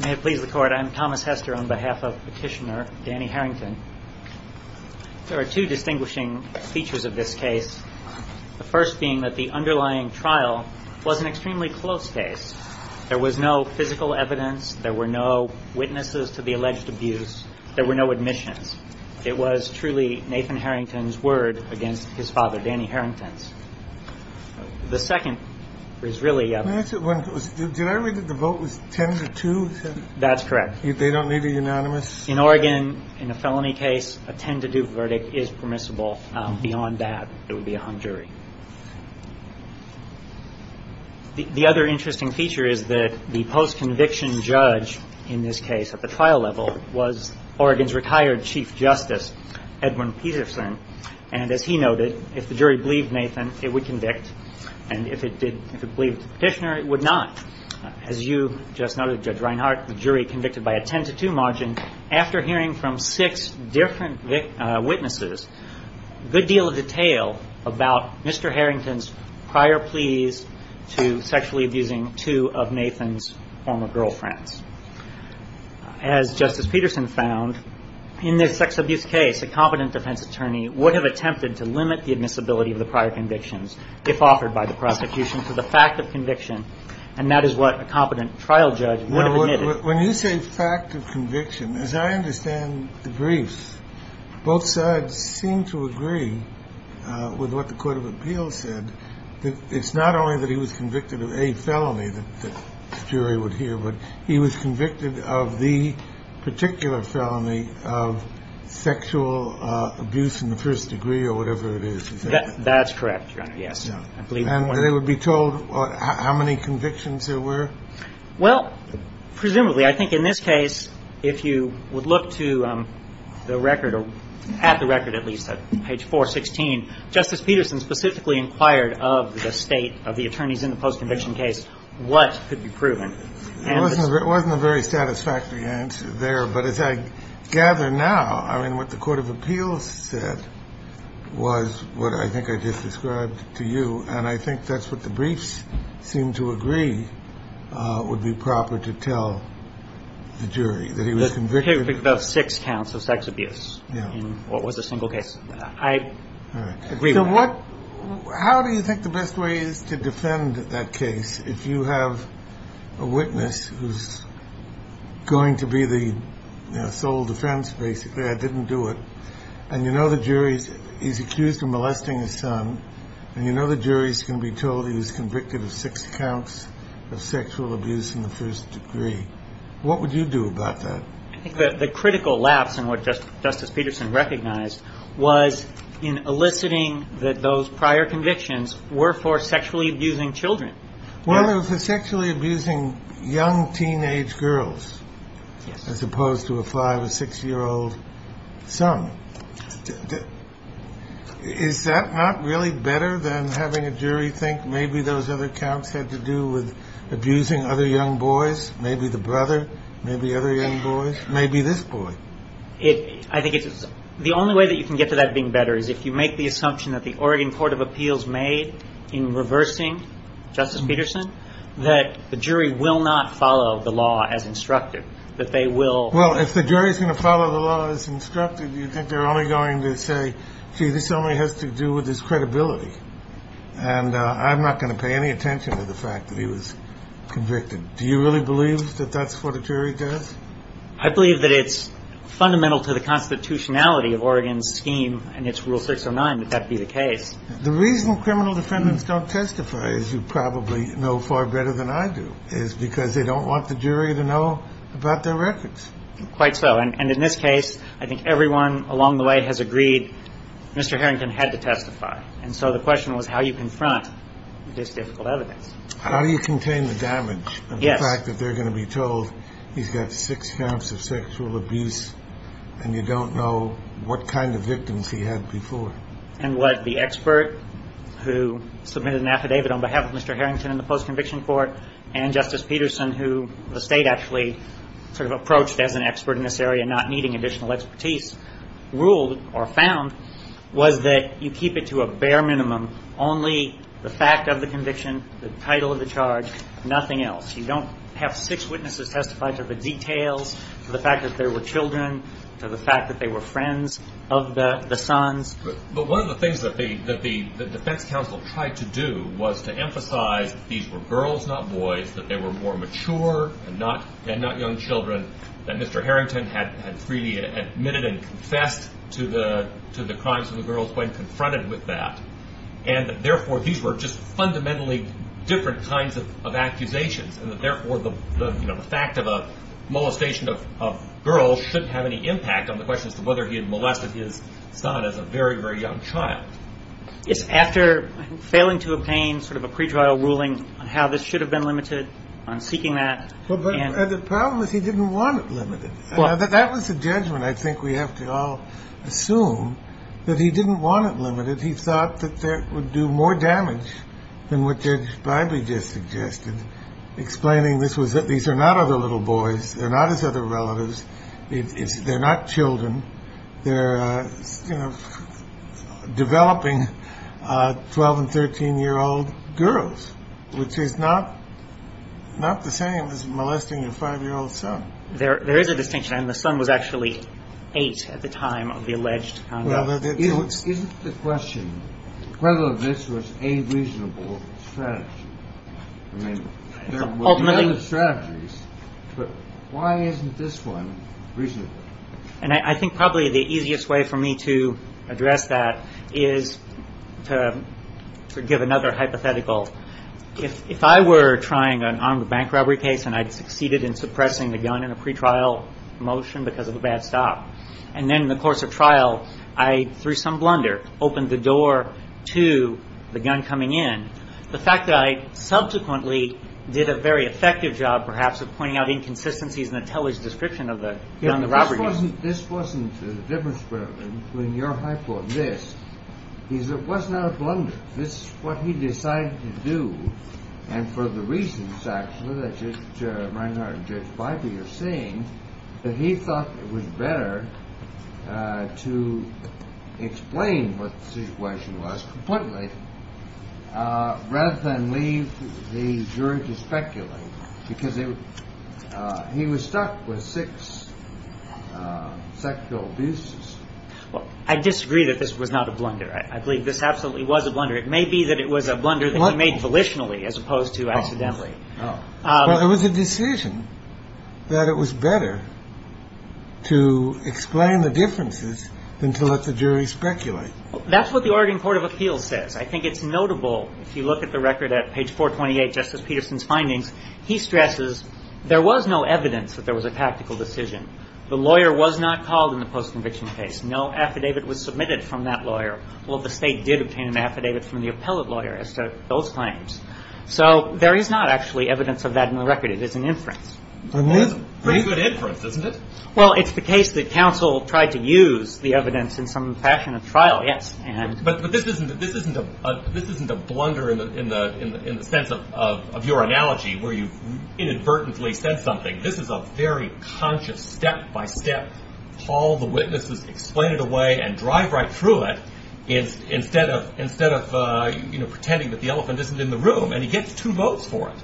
May it please the court, I'm Thomas Hester on behalf of petitioner Danny Harrington. There are two distinguishing features of this case. The first being that the underlying trial was an extremely close case. There was no physical evidence. There were no witnesses to the alleged abuse. There were no admissions. It was truly Nathan Harrington's word against his father, Danny Harrington's. The second is really one. Did I read that the vote was ten to two? That's correct. They don't need a unanimous in Oregon in a felony case. A ten to do verdict is permissible. Beyond that, it would be a jury. The other interesting feature is that the post conviction judge in this case at the trial level was Oregon's retired chief justice, Edwin Peterson. And as he noted, if the jury believed Nathan, it would convict. And if it did, if it believed the petitioner, it would not. As you just noted, Judge Reinhart, the jury convicted by a ten to two margin after hearing from six different witnesses. Good deal of detail about Mr. Harrington's prior pleas to sexually abusing two of Nathan's former girlfriends. As Justice Peterson found in this sex abuse case, a competent defense attorney would have attempted to limit the admissibility of the prior convictions if offered by the prosecution for the fact of conviction. And that is what a competent trial judge would have admitted. When you say fact of conviction, as I understand the brief, both sides seem to agree with what the court of appeals said. It's not only that he was convicted of a felony that the jury would hear, but he was convicted of the particular felony of sexual abuse in the first degree or whatever it is. That's correct. Yes, I believe it would be told how many convictions there were. Well, presumably, I think in this case, if you would look to the record or at the record, at least page 416, Justice Peterson specifically inquired of the state of the attorneys in the post conviction case. What could be proven? It wasn't a very satisfactory answer there. But as I gather now, I mean, what the court of appeals said was what I think I just described to you. And I think that's what the briefs seem to agree would be proper to tell the jury that he was convicted of six counts of sex abuse. What was a single case? I agree. So what how do you think the best way is to defend that case? If you have a witness who's going to be the sole defense, basically, I didn't do it. And, you know, the jury is accused of molesting his son. And, you know, the jury is going to be told he was convicted of six counts of sexual abuse in the first degree. What would you do about that? I think that the critical lapse in what Justice Peterson recognized was in eliciting that those prior convictions were for sexually abusing children. Well, it was sexually abusing young teenage girls as opposed to a five or six year old son. Is that not really better than having a jury think maybe those other counts had to do with abusing other young boys? Maybe the brother, maybe other young boys, maybe this boy. If I think it's the only way that you can get to that being better is if you make the assumption that the Oregon Court of Appeals made in reversing Justice Peterson, that the jury will not follow the law as instructed, that they will. Well, if the jury is going to follow the law as instructed, you think they're only going to say, gee, this only has to do with his credibility. And I'm not going to pay any attention to the fact that he was convicted. Do you really believe that that's what a jury does? I believe that it's fundamental to the constitutionality of Oregon's scheme and its Rule 609 that that be the case. The reason criminal defendants don't testify, as you probably know far better than I do, is because they don't want the jury to know about their records. Quite so. And in this case, I think everyone along the way has agreed Mr. Harrington had to testify. And so the question was how you confront this difficult evidence. How do you contain the damage of the fact that they're going to be told he's got six counts of sexual abuse and you don't know what kind of victims he had before? And what the expert who submitted an affidavit on behalf of Mr. Harrington in the post-conviction court and Justice Peterson, who the State actually sort of approached as an expert in this area, not needing additional expertise, ruled or found was that you keep it to a bare minimum. Only the fact of the conviction, the title of the charge, nothing else. You don't have six witnesses testify to the details, to the fact that there were children, to the fact that they were friends of the sons. But one of the things that the defense counsel tried to do was to emphasize that these were girls, not boys, that they were more mature and not young children, that Mr. Harrington had freely admitted and confessed to the crimes of the girls when confronted with that. And therefore, these were just fundamentally different kinds of accusations. And therefore, the fact of a molestation of girls shouldn't have any impact on the question as to whether he had molested his son as a very, very young child. It's after failing to obtain sort of a pre-trial ruling on how this should have been limited on seeking that. But the problem is he didn't want it limited. That was the judgment, I think we have to all assume, that he didn't want it limited. He thought that that would do more damage than what Judge Bybee just suggested, explaining this was that these are not other little boys. They're not his other relatives. They're not children. They're developing 12 and 13-year-old girls, which is not the same as molesting a five-year-old son. There is a distinction. I mean, the son was actually eight at the time of the alleged conduct. Isn't the question whether this was a reasonable strategy? I mean, there were other strategies, but why isn't this one reasonable? And I think probably the easiest way for me to address that is to give another hypothetical. If I were trying an armed bank robbery case and I'd succeeded in suppressing the gun in a pre-trial motion because of a bad stop, and then in the course of trial I, through some blunder, opened the door to the gun coming in, the fact that I subsequently did a very effective job, perhaps, of pointing out inconsistencies in the television description of the robbery case. This wasn't the difference between your hypothesis. It wasn't out of blunder. This is what he decided to do. And for the reasons, actually, that Judge Reinhart and Judge Bybee are saying, that he thought it was better to explain what the situation was completely rather than leave the jury to speculate, because he was stuck with six sexual abuses. Well, I disagree that this was not a blunder. I believe this absolutely was a blunder. It may be that it was a blunder that he made volitionally as opposed to accidentally. Well, it was a decision that it was better to explain the differences than to let the jury speculate. That's what the Oregon Court of Appeals says. I think it's notable, if you look at the record at page 428, Justice Peterson's findings, he stresses there was no evidence that there was a tactical decision. The lawyer was not called in the post-conviction case. No affidavit was submitted from that lawyer. Well, the State did obtain an affidavit from the appellate lawyer as to those claims. So there is not actually evidence of that in the record. It is an inference. It's a pretty good inference, isn't it? Well, it's the case that counsel tried to use the evidence in some fashion of trial, yes. But this isn't a blunder in the sense of your analogy where you inadvertently said something. This is a very conscious step-by-step. Paul, the witness, has explained it away and drive right through it instead of pretending that the elephant isn't in the room. And he gets two votes for it.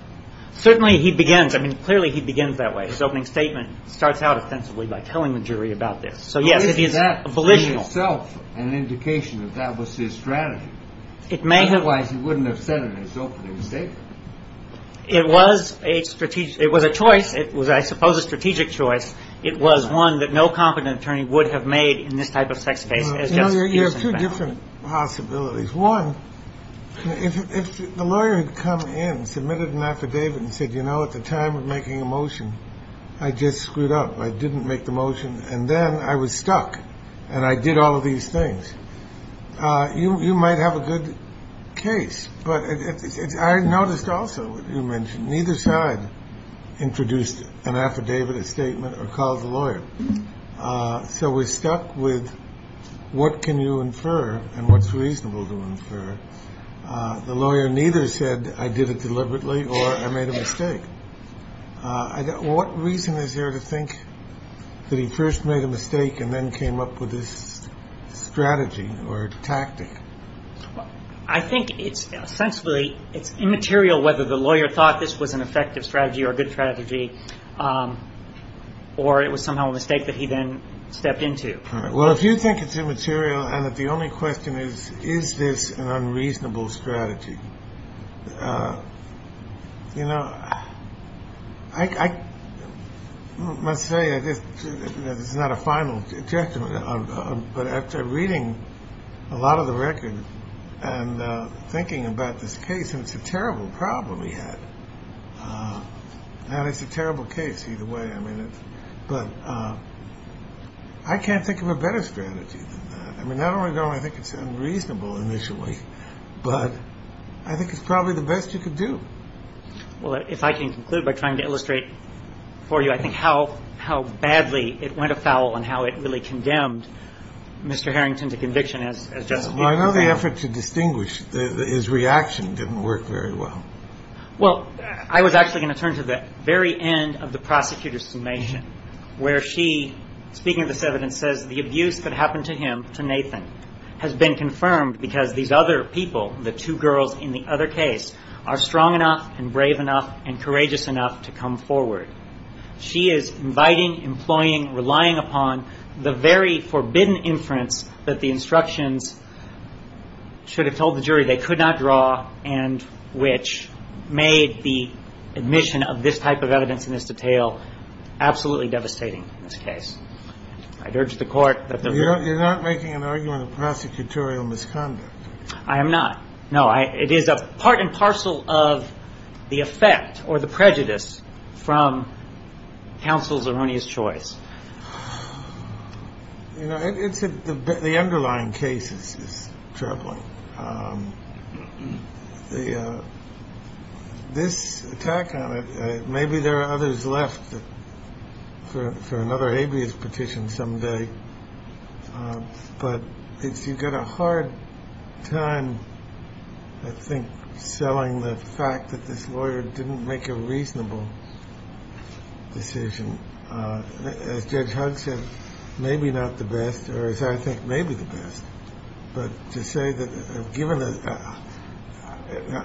Certainly he begins. I mean, clearly he begins that way. His opening statement starts out ostensibly by telling the jury about this. So, yes, it is volitional. Isn't that in itself an indication that that was his strategy? Otherwise, he wouldn't have said it in his opening statement. It was a strategic choice. It was, I suppose, a strategic choice. It was one that no competent attorney would have made in this type of sex case. You have two different possibilities. One, if the lawyer had come in, submitted an affidavit and said, you know, at the time of making a motion, I just screwed up. I didn't make the motion. And then I was stuck. And I did all of these things. You might have a good case. But I noticed also you mentioned neither side introduced an affidavit, a statement or called the lawyer. So we're stuck with what can you infer and what's reasonable to infer. The lawyer neither said I did it deliberately or I made a mistake. What reason is there to think that he first made a mistake and then came up with this strategy or tactic? I think it's sensibly it's immaterial whether the lawyer thought this was an effective strategy or a good strategy or it was somehow a mistake that he then stepped into. Well, if you think it's immaterial and that the only question is, is this an unreasonable strategy? You know, I must say this is not a final judgment. But after reading a lot of the record and thinking about this case, it's a terrible problem. We had a terrible case either way. I mean, but I can't think of a better strategy. I mean, not only do I think it's unreasonable initially, but I think it's probably the best you could do. Well, if I can conclude by trying to illustrate for you, I think how how badly it went afoul and how it really condemned Mr. Harrington to conviction as I know the effort to distinguish his reaction didn't work very well. Well, I was actually going to turn to the very end of the prosecutor's summation where she, speaking of this evidence, says the abuse that happened to him, to Nathan, has been confirmed because these other people, the two girls in the other case, are strong enough and brave enough and courageous enough to come forward. She is inviting, employing, relying upon the very forbidden inference that the instructions should have told the jury they could not draw and which made the admission of this type of evidence in this detail absolutely devastating in this case. I'd urge the court that there were. You're not making an argument of prosecutorial misconduct. I am not. No, it is a part and parcel of the effect or the prejudice from counsel's erroneous choice. You know, it's the underlying cases is troubling. The this attack on it. Maybe there are others left for another habeas petition someday. But if you've got a hard time, I think, selling the fact that this lawyer didn't make a reasonable decision, as Judge Huggs said, maybe not the best, or as I think, maybe the best. But to say that given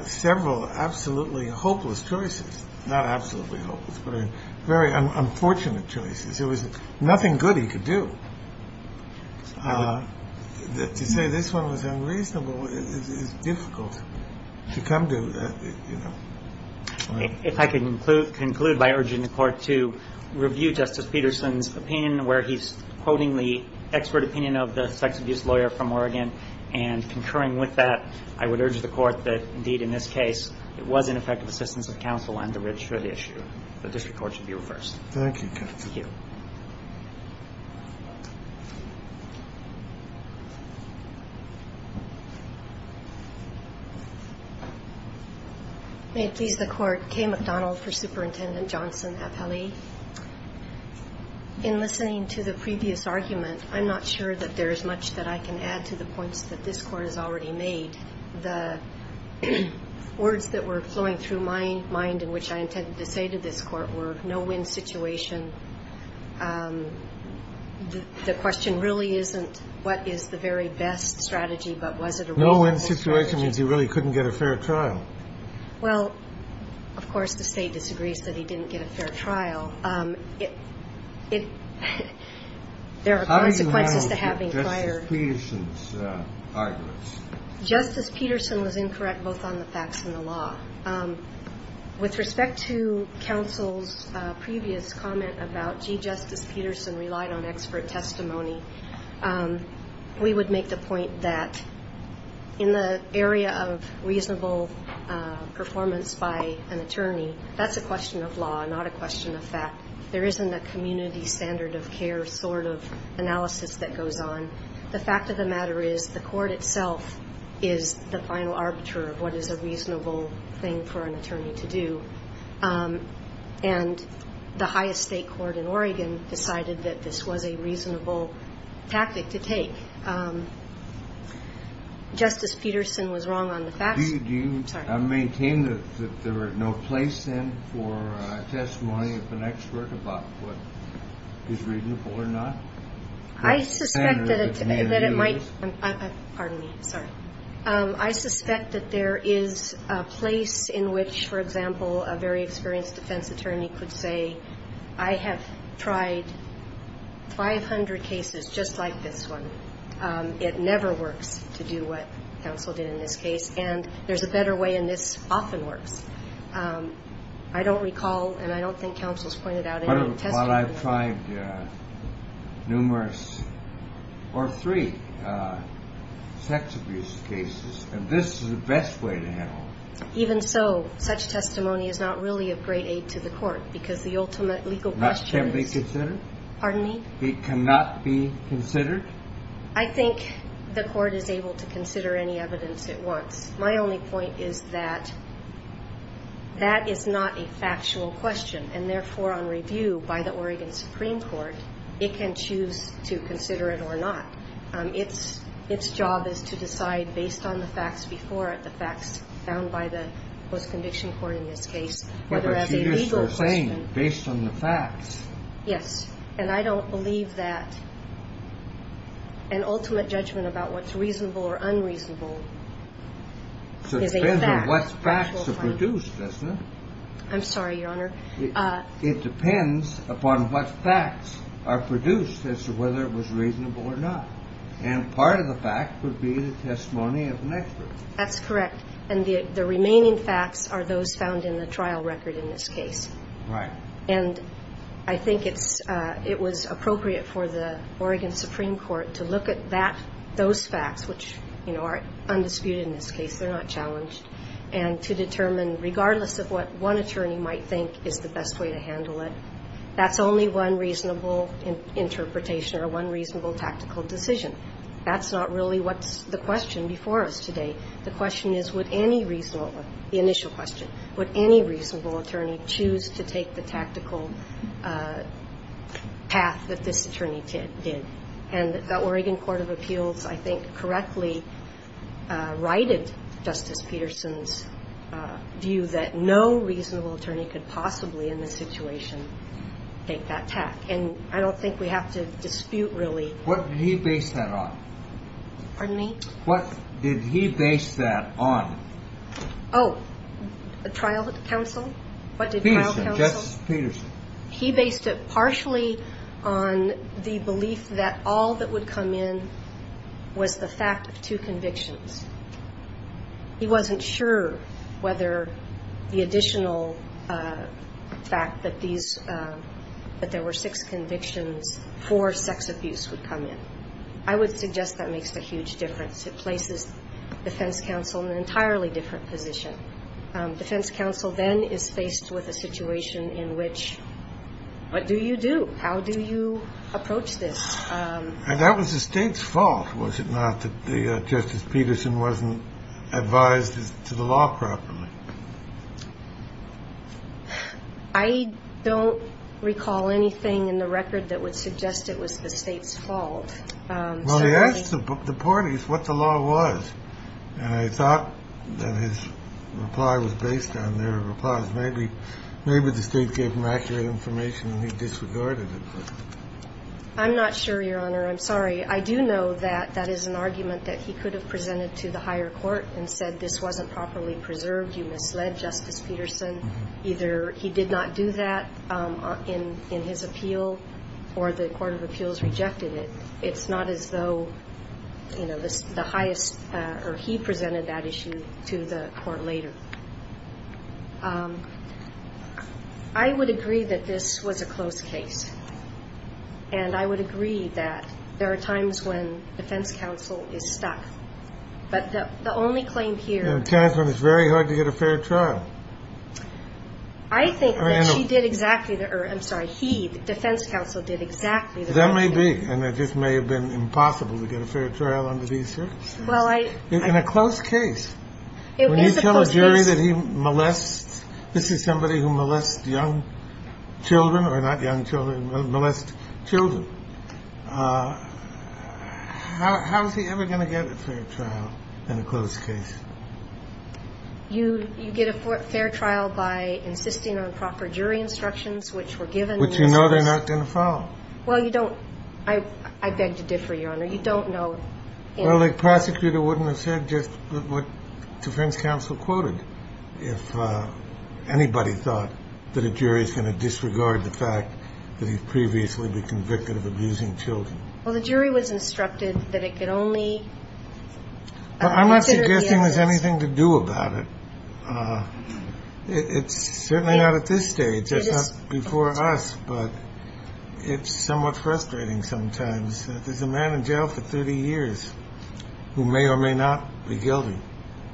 several absolutely hopeless choices, not absolutely hopeless, but very unfortunate choices, there was nothing good he could do. To say this one was unreasonable is difficult to come to. If I can conclude by urging the court to review Justice Peterson's opinion, where he's quoting the expert opinion of the sex abuse lawyer from Oregon and concurring with that, I would urge the court that, indeed, in this case, it was an effective assistance of counsel and to register the issue. The district court should be reversed. Thank you. May it please the Court. Kay McDonald for Superintendent Johnson, appellee. In listening to the previous argument, I'm not sure that there is much that I can add to the points that this Court has already made. The words that were flowing through my mind and which I intended to say to this Court were no-win situation. The question really isn't what is the very best strategy, but was it a reasonable strategy? No-win situation means he really couldn't get a fair trial. Well, of course, the State disagrees that he didn't get a fair trial. There are consequences to having prior. How do you handle Justice Peterson's arguments? With respect to counsel's previous comment about, gee, Justice Peterson relied on expert testimony, we would make the point that in the area of reasonable performance by an attorney, that's a question of law, not a question of fact. There isn't a community standard of care sort of analysis that goes on. The fact of the matter is the Court itself is the final arbiter of what is a reasonable thing for an attorney to do. And the highest state court in Oregon decided that this was a reasonable tactic to take. Justice Peterson was wrong on the facts. Do you maintain that there were no place then for testimony of an expert about what is reasonable or not? I suspect that it might. Pardon me. Sorry. I suspect that there is a place in which, for example, a very experienced defense attorney could say, I have tried 500 cases just like this one. It never works to do what counsel did in this case. And there's a better way, and this often works. I don't recall, and I don't think counsel's pointed out any testimonies. Well, I've tried numerous or three sex abuse cases, and this is the best way to handle it. Even so, such testimony is not really of great aid to the Court because the ultimate legal question is – It cannot be considered? Pardon me? It cannot be considered? I think the Court is able to consider any evidence at once. My only point is that that is not a factual question, and therefore on review by the Oregon Supreme Court, it can choose to consider it or not. Its job is to decide based on the facts before it, the facts found by the post-conviction court in this case, whether as a legal question – But you just were saying based on the facts. Yes. And I don't believe that an ultimate judgment about what's reasonable or unreasonable is a fact. It depends on what facts are produced, doesn't it? I'm sorry, Your Honor. It depends upon what facts are produced as to whether it was reasonable or not. And part of the fact would be the testimony of an expert. That's correct. And the remaining facts are those found in the trial record in this case. Right. And I think it's – it was appropriate for the Oregon Supreme Court to look at that – those facts, which, you know, are undisputed in this case, they're not challenged, and to determine regardless of what one attorney might think is the best way to handle it, that's only one reasonable interpretation or one reasonable tactical decision. That's not really what's the question before us today. The question is, would any reasonable – the initial question – would any reasonable attorney choose to take the tactical path that this attorney did? And the Oregon Court of Appeals, I think, correctly righted Justice Peterson's view that no reasonable attorney could possibly in this situation take that tack. And I don't think we have to dispute really – What did he base that on? Pardon me? What did he base that on? Oh, the trial counsel? What did trial counsel – Peterson. Justice Peterson. He based it partially on the belief that all that would come in was the fact of two convictions. He wasn't sure whether the additional fact that these – that there were six convictions for sex abuse would come in. I would suggest that makes a huge difference. It places defense counsel in an entirely different position. Defense counsel then is faced with a situation in which, what do you do? How do you approach this? And that was the State's fault, was it not, that Justice Peterson wasn't advised to the law properly? I don't recall anything in the record that would suggest it was the State's fault. Well, he asked the parties what the law was. And I thought that his reply was based on their replies. Maybe the State gave him accurate information and he disregarded it. I'm not sure, Your Honor. I'm sorry. I do know that that is an argument that he could have presented to the higher court and said this wasn't properly preserved, you misled Justice Peterson. Either he did not do that in his appeal or the Court of Appeals rejected it. It's not as though, you know, the highest – or he presented that issue to the court later. I would agree that this was a close case. And I would agree that there are times when defense counsel is stuck. But the only claim here – And it's very hard to get a fair trial. I think that he did exactly the – I'm sorry, he, the defense counsel, did exactly the right thing. That may be. And it just may have been impossible to get a fair trial under these circumstances. Well, I – In a close case. It is a close case. When you tell a jury that he molested – this is somebody who molested young children or not young children, molested children. How is he ever going to get a fair trial in a close case? You get a fair trial by insisting on proper jury instructions which were given. Which you know they're not going to follow. Well, you don't – I beg to differ, Your Honor. You don't know – Well, a prosecutor wouldn't have said just what defense counsel quoted if anybody thought that a jury is going to disregard the fact that he'd previously been convicted of abusing children. Well, the jury was instructed that it could only – I'm not suggesting there's anything to do about it. It's certainly not at this stage. It's not before us, but it's somewhat frustrating sometimes. There's a man in jail for 30 years who may or may not be guilty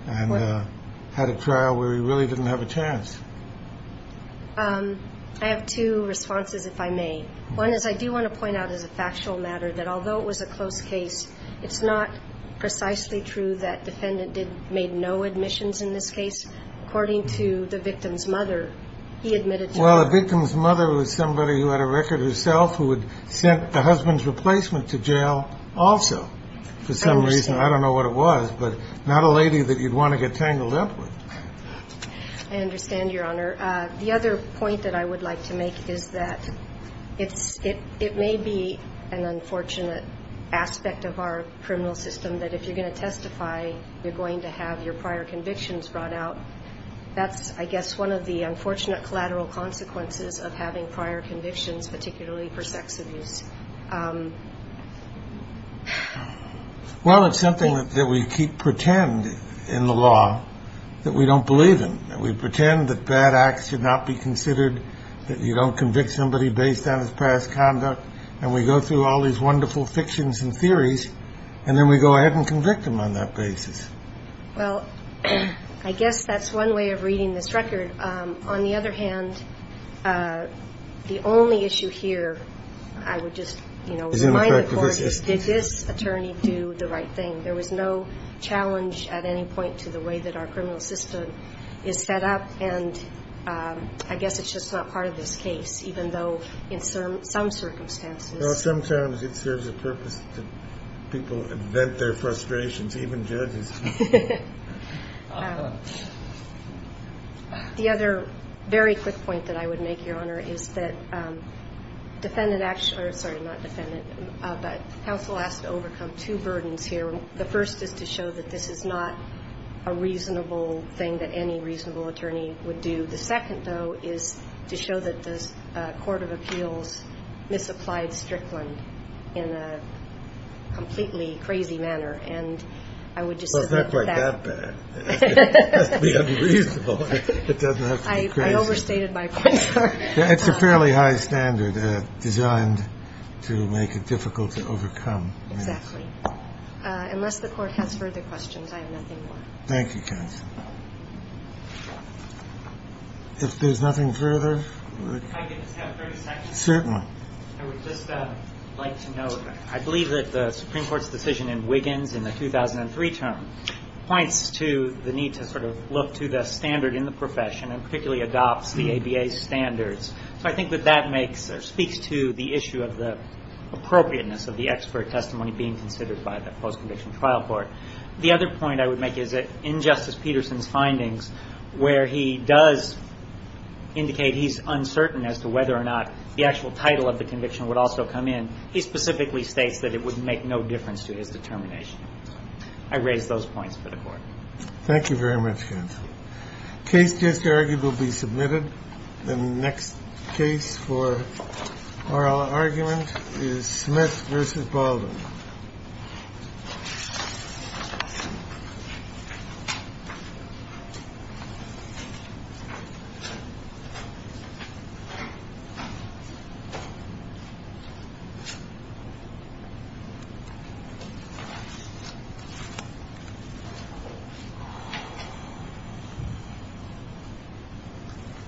and had a trial where he really didn't have a chance. I have two responses, if I may. One is I do want to point out as a factual matter that although it was a close case, it's not precisely true that defendant did – made no admissions in this case. According to the victim's mother, he admitted to that. Well, the victim's mother was somebody who had a record herself who had sent the husband's replacement to jail also for some reason. I understand. I don't know what it was, but not a lady that you'd want to get tangled up with. I understand, Your Honor. The other point that I would like to make is that it may be an unfortunate aspect of our criminal system that if you're going to testify, you're going to have your prior convictions brought out. That's, I guess, one of the unfortunate collateral consequences of having prior convictions, particularly for sex abuse. Well, it's something that we keep – pretend in the law that we don't believe in, that we pretend that bad acts should not be considered, that you don't convict somebody based on his past conduct, and we go through all these wonderful fictions and theories, and then we go ahead and convict him on that basis. Well, I guess that's one way of reading this record. On the other hand, the only issue here I would just remind the court is did this attorney do the right thing? There was no challenge at any point to the way that our criminal system is set up, and I guess it's just not part of this case, even though in some circumstances. Well, sometimes it serves a purpose to people to vent their frustrations, even judges. The other very quick point that I would make, Your Honor, is that defendant – sorry, not defendant, but counsel has to overcome two burdens here. The first is to show that this is not a reasonable thing that any reasonable attorney would do. The second, though, is to show that the court of appeals misapplied Strickland in a completely crazy manner, and I would just submit that. Well, it's not quite that bad. It has to be unreasonable. It doesn't have to be crazy. I overstated my point. It's a fairly high standard designed to make it difficult to overcome. Exactly. Unless the court has further questions, I have nothing more. Thank you, counsel. If there's nothing further. If I could just have 30 seconds. Certainly. I would just like to note, I believe that the Supreme Court's decision in Wiggins in the 2003 term points to the need to sort of look to the standard in the profession, and particularly adopts the ABA standards. So I think that that makes or speaks to the issue of the appropriateness of the expert testimony being considered by the post-conviction trial court. The other point I would make is that in Justice Peterson's findings, where he does indicate he's uncertain as to whether or not the actual title of the conviction would also come in, he specifically states that it would make no difference to his determination. I raise those points for the court. Thank you very much, counsel. Case just argued will be submitted. The next case for oral argument is Smith v. Baldwin. Thank you.